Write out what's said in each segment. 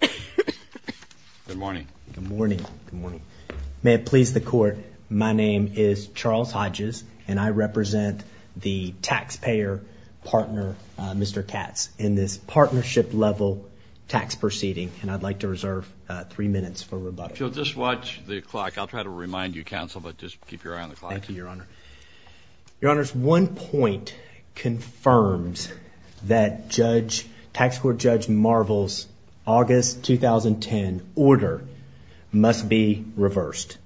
Good morning. Good morning. Good morning. May it please the court. My name is Charles Hodges, and I represent the taxpayer partner, Mr. Katz, in this partnership level tax proceeding, and I'd like to reserve three minutes for rebuttal. If you'll just watch the clock, I'll try to remind you, counsel, but just keep your eye on the clock. Thank you, Your Honor. Your Honor, one point confirms that Tax Court Judge Marvel's August 2010 order must be reversed,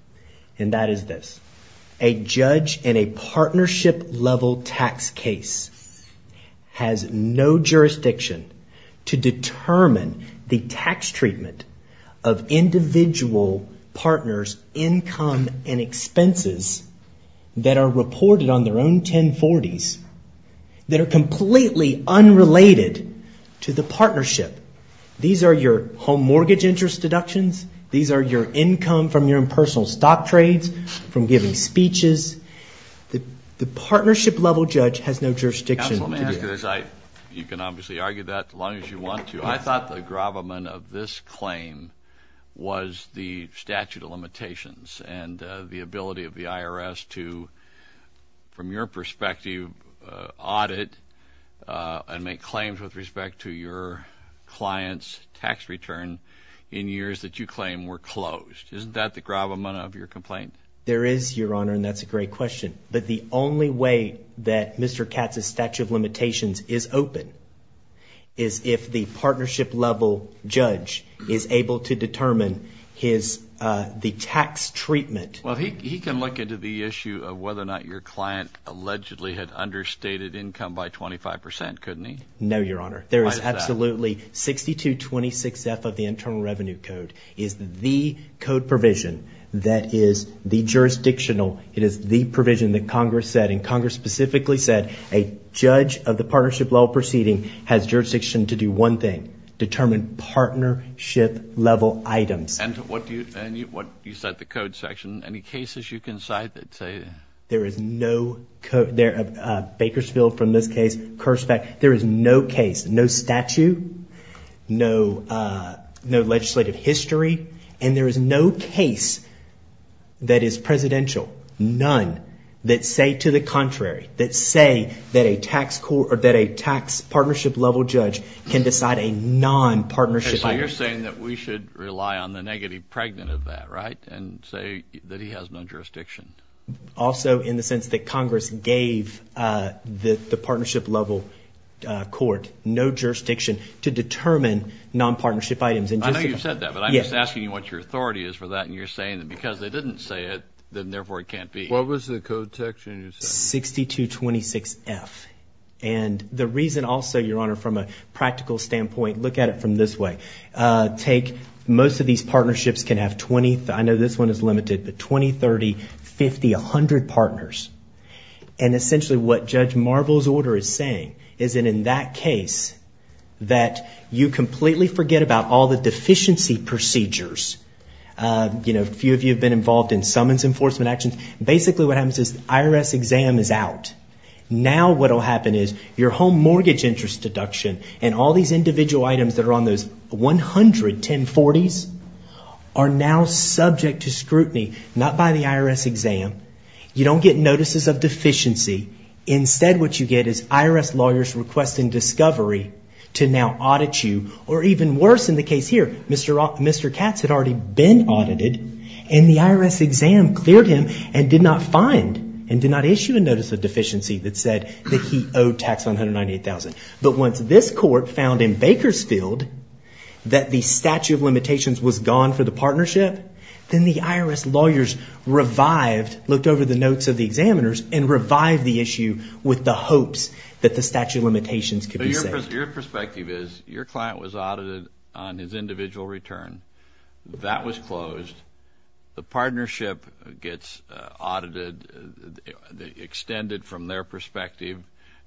and that is this. has no jurisdiction to determine the tax treatment of individual partners' income and expenses that are reported on their own 1040s that are completely unrelated to the partnership. These are your home mortgage interest deductions. These are your income from your impersonal stock trades, from giving speeches. The partnership level judge has no jurisdiction to do that. Counsel, let me ask you this. You can obviously argue that as long as you want to. I thought the gravamen of this claim was the statute of limitations and the ability of the IRS to, from your perspective, audit and make claims with respect to your client's tax return in years that you claim were closed. Isn't that the gravamen of your complaint? There is, Your Honor, and that's a great question. But the only way that Mr. Katz's statute of limitations is open is if the partnership level judge is able to determine his – the tax treatment. Well, he can look into the issue of whether or not your client allegedly had understated income by 25 percent, couldn't he? No, Your Honor. Why is that? Absolutely. 6226F of the Internal Revenue Code is the code provision that is the jurisdictional. It is the provision that Congress said, and Congress specifically said a judge of the partnership level proceeding has jurisdiction to do one thing, determine partnership level items. And what do you – and what – you said the code section. Any cases you can cite that say – There is no – Bakersfield from this case, Kurzbeck – there is no case, no statute, no legislative history, and there is no case that is presidential, none, that say to the contrary, that say that a tax partnership level judge can decide a non-partnership level case. So you're saying that we should rely on the negative pregnant of that, right, and say that he has no jurisdiction? Also in the sense that Congress gave the partnership level court no jurisdiction to determine non-partnership items. I know you said that, but I'm just asking you what your authority is for that, and you're saying that because they didn't say it, then therefore it can't be. What was the code section you said? 6226F. And the reason also, Your Honor, from a practical standpoint, look at it from this way. Most of these partnerships can have 20 – I know this one is limited, but 20, 30, 50, 100 partners. And essentially what Judge Marvel's order is saying is that in that case that you completely forget about all the deficiency procedures. A few of you have been involved in summons enforcement actions. Basically what happens is the IRS exam is out. Now what will happen is your home mortgage interest deduction and all these individual items that are on those 100 1040s are now subject to scrutiny. Not by the IRS exam. You don't get notices of deficiency. Instead what you get is IRS lawyers requesting discovery to now audit you, or even worse in the case here, Mr. Katz had already been audited. And the IRS exam cleared him and did not find and did not issue a notice of deficiency that said that he owed tax $198,000. But once this court found in Bakersfield that the statute of limitations was gone for the partnership, then the IRS lawyers revived – looked over the notes of the examiners and revived the issue with the hopes that the statute of limitations could be saved. Your perspective is your client was audited on his individual return. That was closed. The partnership gets audited, extended from their perspective.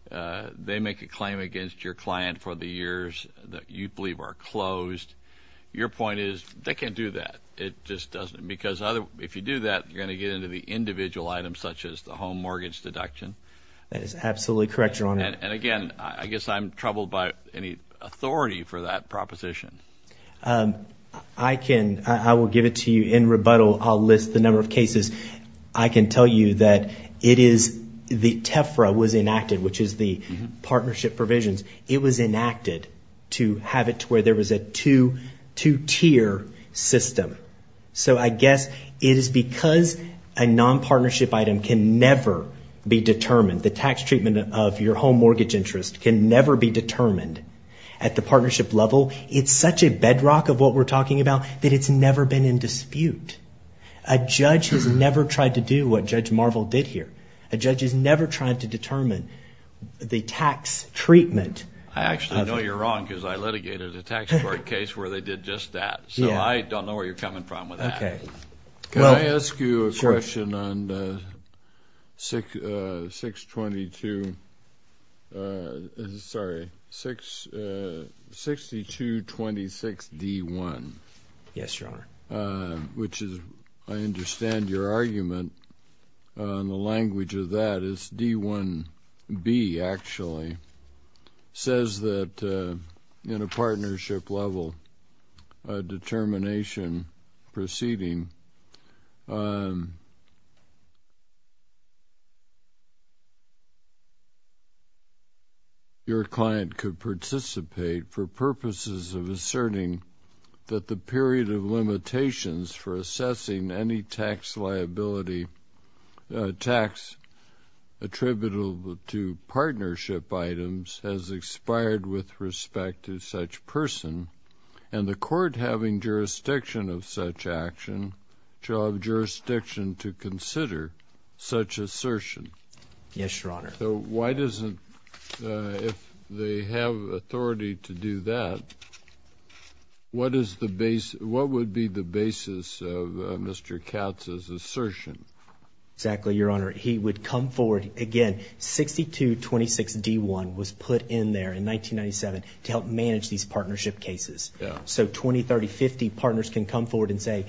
They make a claim against your client for the years that you believe are closed. Your point is they can't do that. It just doesn't – because if you do that, you're going to get into the individual items such as the home mortgage deduction. That is absolutely correct, Your Honor. And again, I guess I'm troubled by any authority for that proposition. I can – I will give it to you in rebuttal. I'll list the number of cases. I can tell you that it is – the TEFRA was enacted, which is the partnership provisions. It was enacted to have it to where there was a two-tier system. So I guess it is because a non-partnership item can never be determined, the tax treatment of your home mortgage interest can never be determined at the partnership level. It's such a bedrock of what we're talking about that it's never been in dispute. A judge has never tried to do what Judge Marvel did here. A judge has never tried to determine the tax treatment. I actually know you're wrong because I litigated a tax court case where they did just that. So I don't know where you're coming from with that. Okay. Can I ask you a question on 622 – sorry, 6226D1? Yes, Your Honor. Which is – I understand your argument. And the language of that is D1B, actually. It says that in a partnership level determination proceeding, your client could participate for purposes of asserting that the period of limitations for assessing any tax liability – tax attributable to partnership items has expired with respect to such person and the court having jurisdiction of such action shall have jurisdiction to consider such assertion. Yes, Your Honor. So why doesn't – if they have authority to do that, what is the – what would be the basis of Mr. Katz's assertion? Exactly, Your Honor. He would come forward – again, 6226D1 was put in there in 1997 to help manage these partnership cases. Yeah. So 20, 30, 50 partners can come forward and say,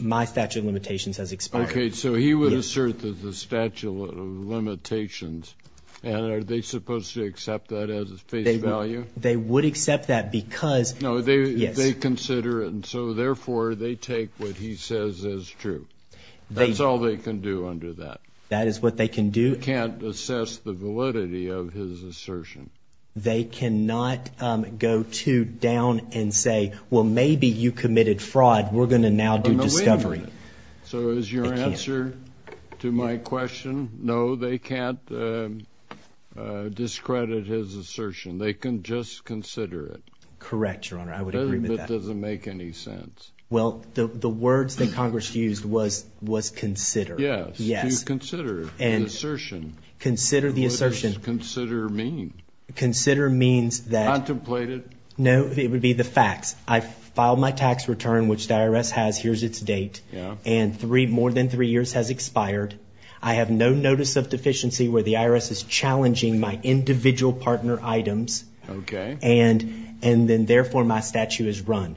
my statute of limitations has expired. Okay. So he would assert that the statute of limitations – and are they supposed to accept that as a face value? They would accept that because – No, they – Yes. And so, therefore, they take what he says as true. That's all they can do under that. That is what they can do. They can't assess the validity of his assertion. They cannot go too down and say, well, maybe you committed fraud. We're going to now do discovery. So is your answer to my question, no, they can't discredit his assertion. They can just consider it. Correct, Your Honor. I would agree with that. But it doesn't make any sense. Well, the words that Congress used was consider. Yes. Yes. To consider an assertion. Consider the assertion. What does consider mean? Consider means that – Contemplate it. No, it would be the facts. I filed my tax return, which the IRS has. Here's its date. Yeah. And three – more than three years has expired. I have no notice of deficiency where the IRS is challenging my individual partner items. Okay. And then, therefore, my statute is run.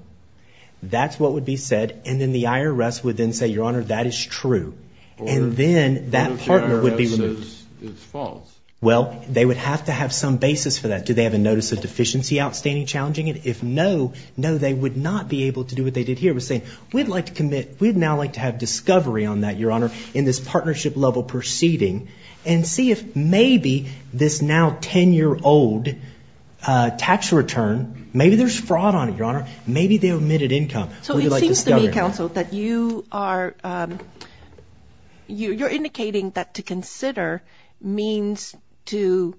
That's what would be said. And then the IRS would then say, Your Honor, that is true. And then that partner would be removed. What if the IRS says it's false? Well, they would have to have some basis for that. Do they have a notice of deficiency outstanding challenging it? If no, no, they would not be able to do what they did here. It would say, we'd like to commit – we'd now like to have discovery on that, Your Honor, in this partnership-level proceeding and see if maybe this now 10-year-old tax return – maybe there's fraud on it, Your Honor. Maybe they omitted income. So it seems to me, Counsel, that you are – you're indicating that to consider means to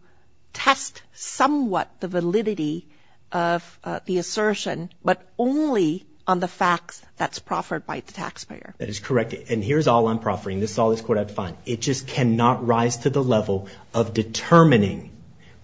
test somewhat the validity of the assertion but only on the facts that's proffered by the taxpayer. That is correct. And here's all I'm proffering. This is all this court had to find. It just cannot rise to the level of determining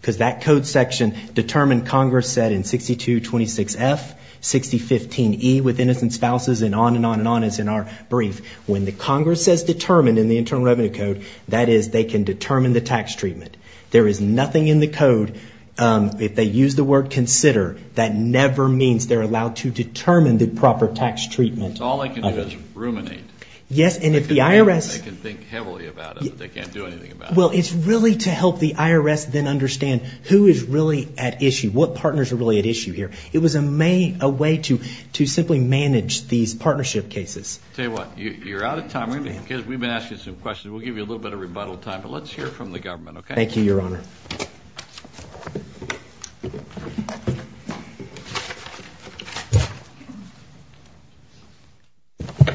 because that code section determined Congress said in 6226F, 6015E, with innocent spouses and on and on and on as in our brief. When the Congress says determined in the Internal Revenue Code, that is they can determine the tax treatment. There is nothing in the code. If they use the word consider, that never means they're allowed to determine the proper tax treatment. All they can do is ruminate. Yes, and if the IRS – They can think heavily about it, but they can't do anything about it. Well, it's really to help the IRS then understand who is really at issue, what partners are really at issue here. It was a way to simply manage these partnership cases. Tell you what, you're out of time. We've been asking some questions. We'll give you a little bit of rebuttal time, but let's hear from the government, okay? Thank you, Your Honor.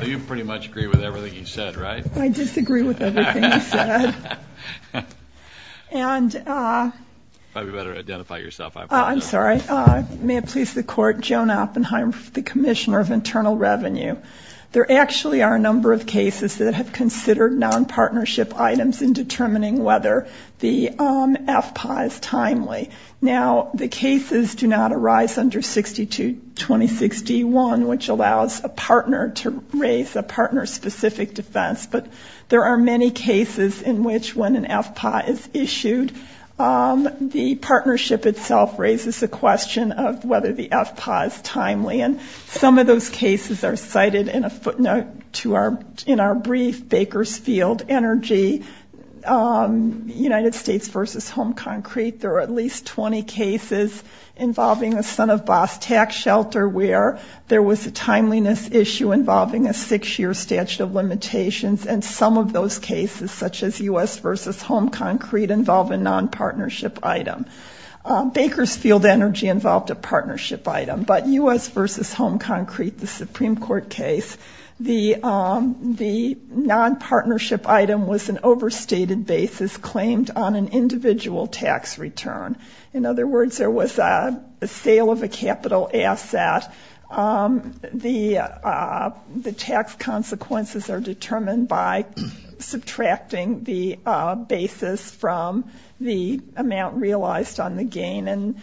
You pretty much agree with everything he said, right? I disagree with everything he said. And – You probably better identify yourself. I'm sorry. May it please the Court, Joan Oppenheim, the Commissioner of Internal Revenue. There actually are a number of cases that have considered nonpartnership items in determining whether the FPA is timely. Now, the cases do not arise under 60 to 2061, which allows a partner to raise a partner-specific defense. But there are many cases in which when an FPA is issued, the partnership itself raises the question of whether the FPA is timely. And some of those cases are cited in a footnote to our – in our brief, Baker's Field Energy, United States v. Home Concrete. There are at least 20 cases involving a son-of-boss tax shelter where there was a timeliness issue involving a six-year statute of limitations. And some of those cases, such as U.S. v. Home Concrete, involve a nonpartnership item. Baker's Field Energy involved a partnership item, but U.S. v. Home Concrete, the Supreme Court case, the nonpartnership item was an overstated basis claimed on an individual tax return. In other words, there was a sale of a capital asset. The tax consequences are determined by subtracting the basis from the amount realized on the gain. And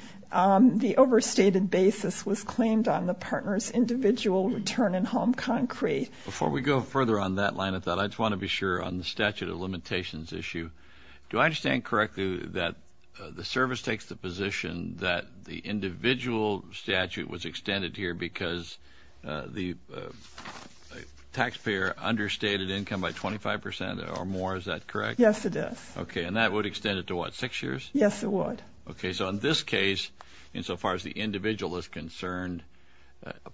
the overstated basis was claimed on the partner's individual return in Home Concrete. Before we go further on that line of thought, I just want to be sure on the statute of limitations issue. Do I understand correctly that the service takes the position that the individual statute was extended here because the taxpayer understated income by 25 percent or more? Is that correct? Yes, it is. Okay. And that would extend it to what, six years? Yes, it would. Okay. So in this case, insofar as the individual is concerned,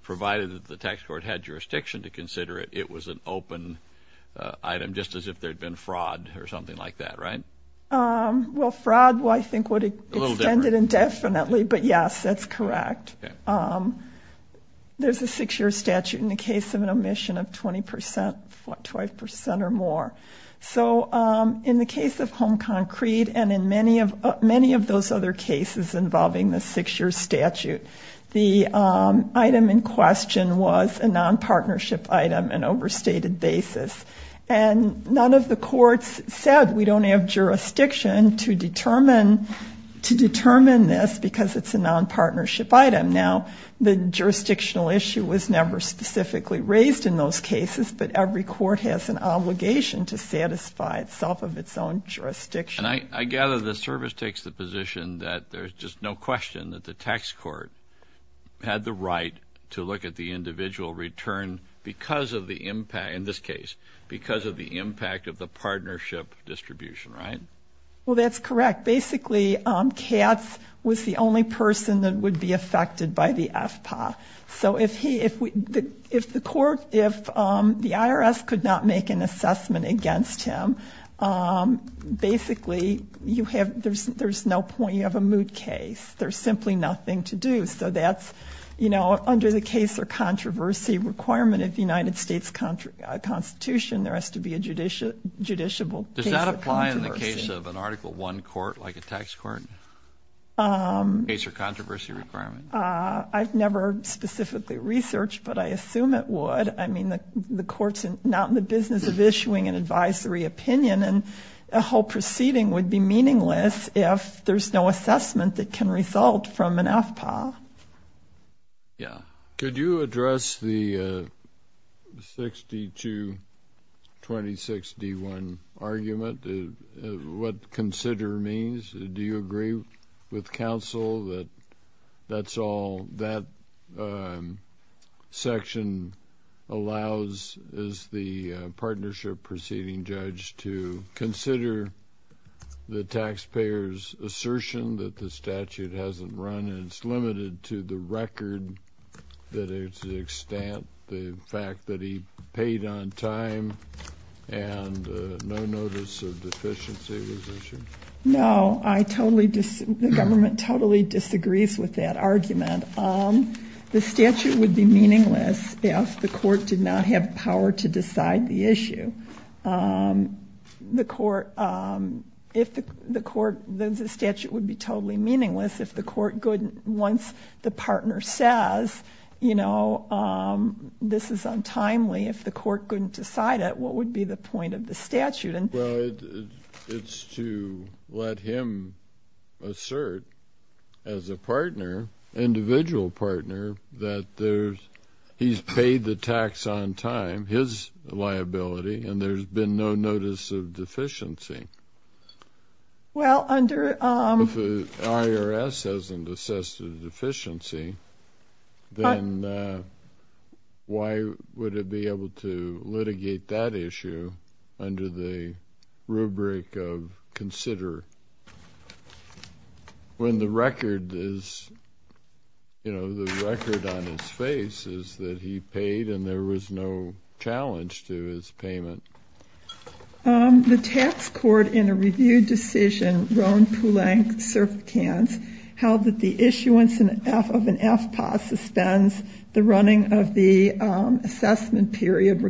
provided that the tax court had jurisdiction to consider it, it was an open item just as if there had been fraud or something like that, right? Well, fraud I think would extend it indefinitely, but yes, that's correct. There's a six-year statute in the case of an omission of 20 percent, 25 percent or more. So in the case of Home Concrete and in many of those other cases involving the six-year statute, the item in question was a nonpartnership item, an overstated basis. And none of the courts said we don't have jurisdiction to determine this because it's a nonpartnership item. Now, the jurisdictional issue was never specifically raised in those cases, but every court has an obligation to satisfy itself of its own jurisdiction. And I gather the service takes the position that there's just no question that the tax court had the right to look at the individual return because of the impact, in this case, because of the impact of the partnership distribution, right? Well, that's correct. Basically, Katz was the only person that would be affected by the FPA. So if the IRS could not make an assessment against him, basically, there's no point. You have a moot case. There's simply nothing to do. So that's, you know, under the case or controversy requirement of the United States Constitution, case or controversy requirement? I've never specifically researched, but I assume it would. I mean, the court's not in the business of issuing an advisory opinion, and a whole proceeding would be meaningless if there's no assessment that can result from an FPA. Yeah. Could you address the 62-26-D1 argument, what consider means? Do you agree with counsel that that's all that section allows, as the partnership proceeding judge, to consider the taxpayer's assertion that the statute hasn't run and it's limited to the record to the extent the fact that he paid on time and no notice of deficiency was issued? No, I totally disagree. The government totally disagrees with that argument. The statute would be meaningless if the court did not have power to decide the issue. The court, if the court, the statute would be totally meaningless if the court couldn't, once the partner says, you know, this is untimely, if the court couldn't decide it, what would be the point of the statute? Well, it's to let him assert as a partner, individual partner, that he's paid the tax on time, his liability, and there's been no notice of deficiency. Well, under... If the IRS hasn't assessed a deficiency, then why would it be able to litigate that issue under the rubric of consider when the record is, you know, the record on his face is that he paid and there was no challenge to his payment? The tax court in a review decision, Roe and Poulenc, Serpicans, held that the issuance of an FPA suspends the running of the assessment period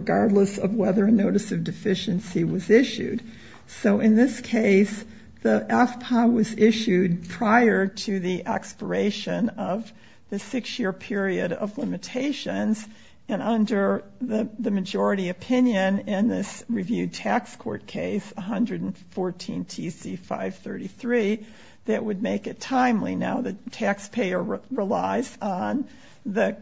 So in this case, the FPA was issued prior to the expiration of the six-year period of limitations and under the majority opinion in this reviewed tax court case, 114 TC 533, that would make it timely. Now, the taxpayer relies on the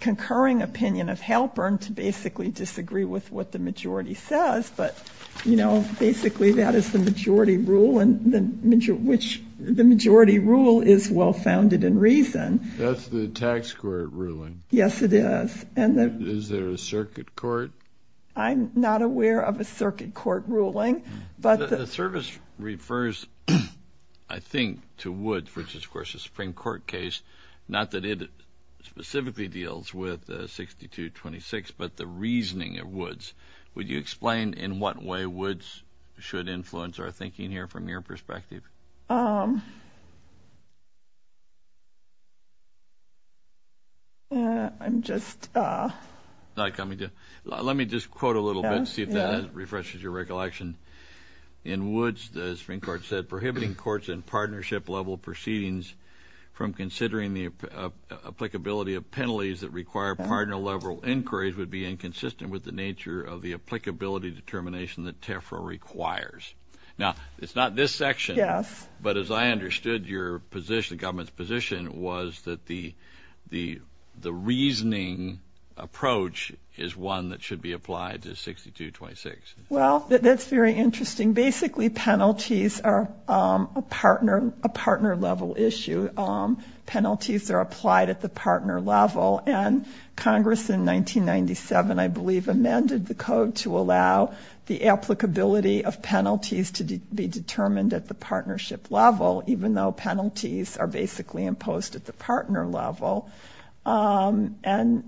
concurring opinion of Halpern to basically disagree with what the majority says, but, you know, basically that is the majority rule, which the majority rule is well-founded in reason. That's the tax court ruling. Yes, it is. Is there a circuit court? I'm not aware of a circuit court ruling, but... The service refers, I think, to Woods, which is, of course, a Supreme Court case, would you explain in what way Woods should influence our thinking here from your perspective? I'm just... Not coming to... Let me just quote a little bit, see if that refreshes your recollection. In Woods, the Supreme Court said, prohibiting courts in partnership-level proceedings from considering the applicability of penalties that require partner-level inquiries would be inconsistent with the nature of the applicability determination that TEFRA requires. Now, it's not this section. Yes. But as I understood your position, the government's position, was that the reasoning approach is one that should be applied to 6226. Well, that's very interesting. Basically, penalties are a partner-level issue. Penalties are applied at the partner level, and Congress in 1997, I believe, amended the code to allow the applicability of penalties to be determined at the partnership level, even though penalties are basically imposed at the partner level. And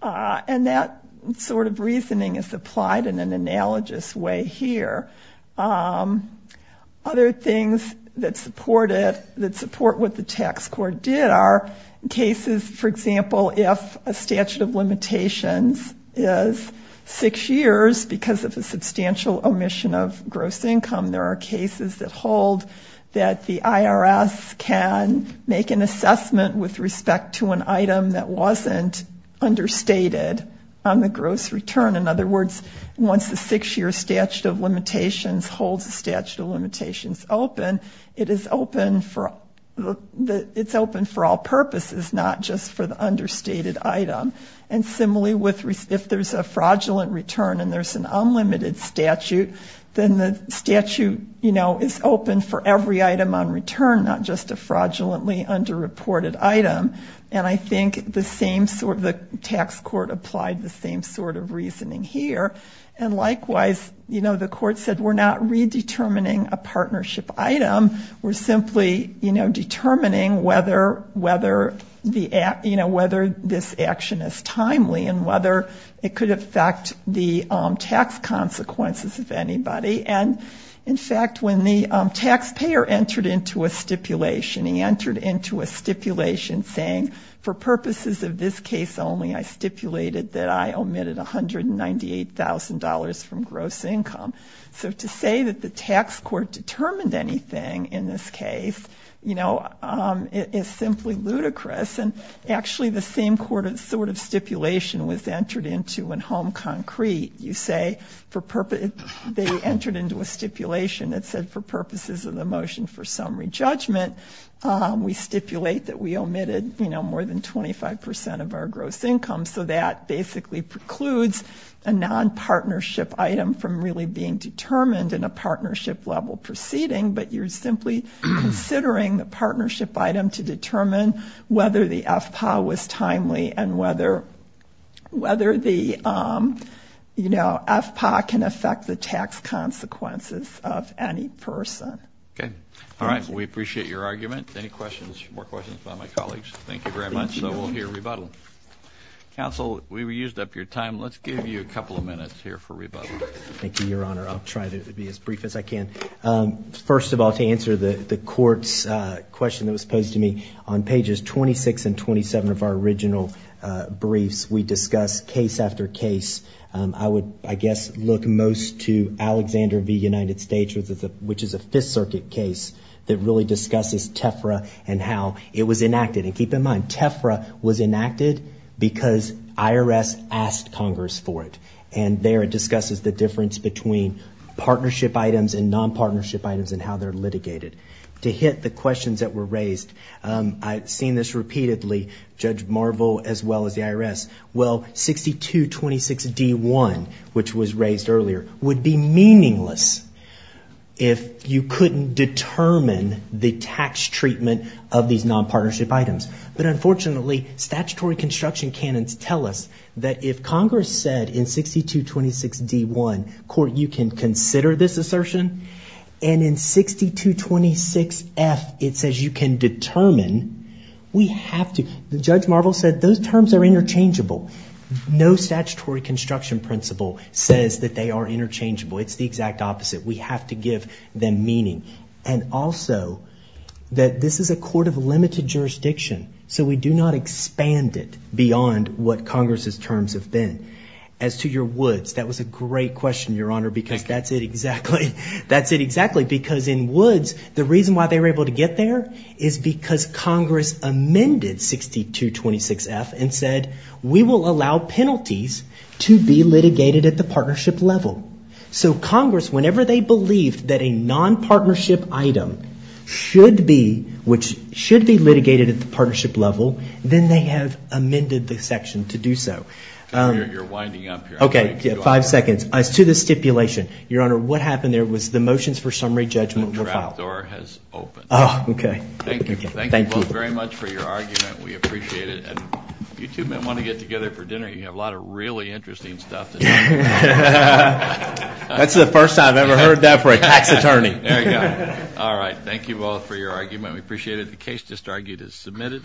that sort of reasoning is applied in an analogous way here. Other things that support it, that support what the tax court did, are cases, for example, if a statute of limitations is six years because of a substantial omission of gross income, there are cases that hold that the IRS can make an assessment with respect to an item that wasn't understated on the gross return. In other words, once the six-year statute of limitations holds the statute of limitations open, it is open for all purposes, not just for the understated item. And similarly, if there's a fraudulent return and there's an unlimited statute, then the statute is open for every item on return, not just a fraudulently underreported item. And I think the tax court applied the same sort of reasoning here. And likewise, the court said we're not redetermining a partnership item. We're simply determining whether this action is timely and whether it could affect the tax consequences of anybody. And in fact, when the taxpayer entered into a stipulation, he entered into a stipulation saying, for purposes of this case only, I stipulated that I omitted $198,000 from gross income. So to say that the tax court determined anything in this case is simply ludicrous. And actually, the same sort of stipulation was entered into in Home Concrete. They entered into a stipulation that said, for purposes of the motion for summary judgment, we stipulate that we omitted more than 25% of our gross income. So that basically precludes a non-partnership item from really being determined in a partnership-level proceeding. But you're simply considering the partnership item to determine whether the FPA was timely and whether the FPA can affect the tax consequences of any person. Okay. All right. We appreciate your argument. Any questions? More questions by my colleagues? Thank you very much. So we'll hear rebuttal. Counsel, we used up your time. Let's give you a couple of minutes here for rebuttal. Thank you, Your Honor. I'll try to be as brief as I can. First of all, to answer the court's question that was posed to me, on pages 26 and 27 of our original briefs, we discussed case after case. I would, I guess, look most to Alexander v. United States, which is a Fifth Circuit case that really discusses TEFRA and how it was enacted. And keep in mind, TEFRA was enacted because IRS asked Congress for it. And there it discusses the difference between partnership items and non-partnership items and how they're litigated. To hit the questions that were raised, I've seen this repeatedly, Judge Marvel, as well as the IRS. Well, 6226D1, which was raised earlier, would be meaningless if you couldn't determine the tax treatment of these non-partnership items. But unfortunately, statutory construction canons tell us that if Congress said in 6226D1, court, you can consider this assertion, and in 6226F, it says you can determine, we have to, Judge Marvel said those terms are interchangeable. No statutory construction principle says that they are interchangeable. It's the exact opposite. We have to give them meaning. And also, that this is a court of limited jurisdiction. So we do not expand it beyond what Congress's terms have been. As to your Woods, that was a great question, Your Honor, because that's it exactly. That's it exactly. Because in Woods, the reason why they were able to get there is because Congress amended 6226F and said, we will allow penalties to be litigated at the partnership level. So Congress, whenever they believed that a non-partnership item should be, which should be litigated at the partnership level, then they have amended the section to do so. You're winding up here. Okay, five seconds. As to the stipulation, Your Honor, what happened there was the motions for summary judgment were filed. The trap door has opened. Oh, okay. Thank you. Thank you both very much for your argument. We appreciate it. And you two might want to get together for dinner. You have a lot of really interesting stuff to talk about. That's the first time I've ever heard that for a tax attorney. There you go. All right. Thank you both for your argument. We appreciate it. The case just argued is submitted.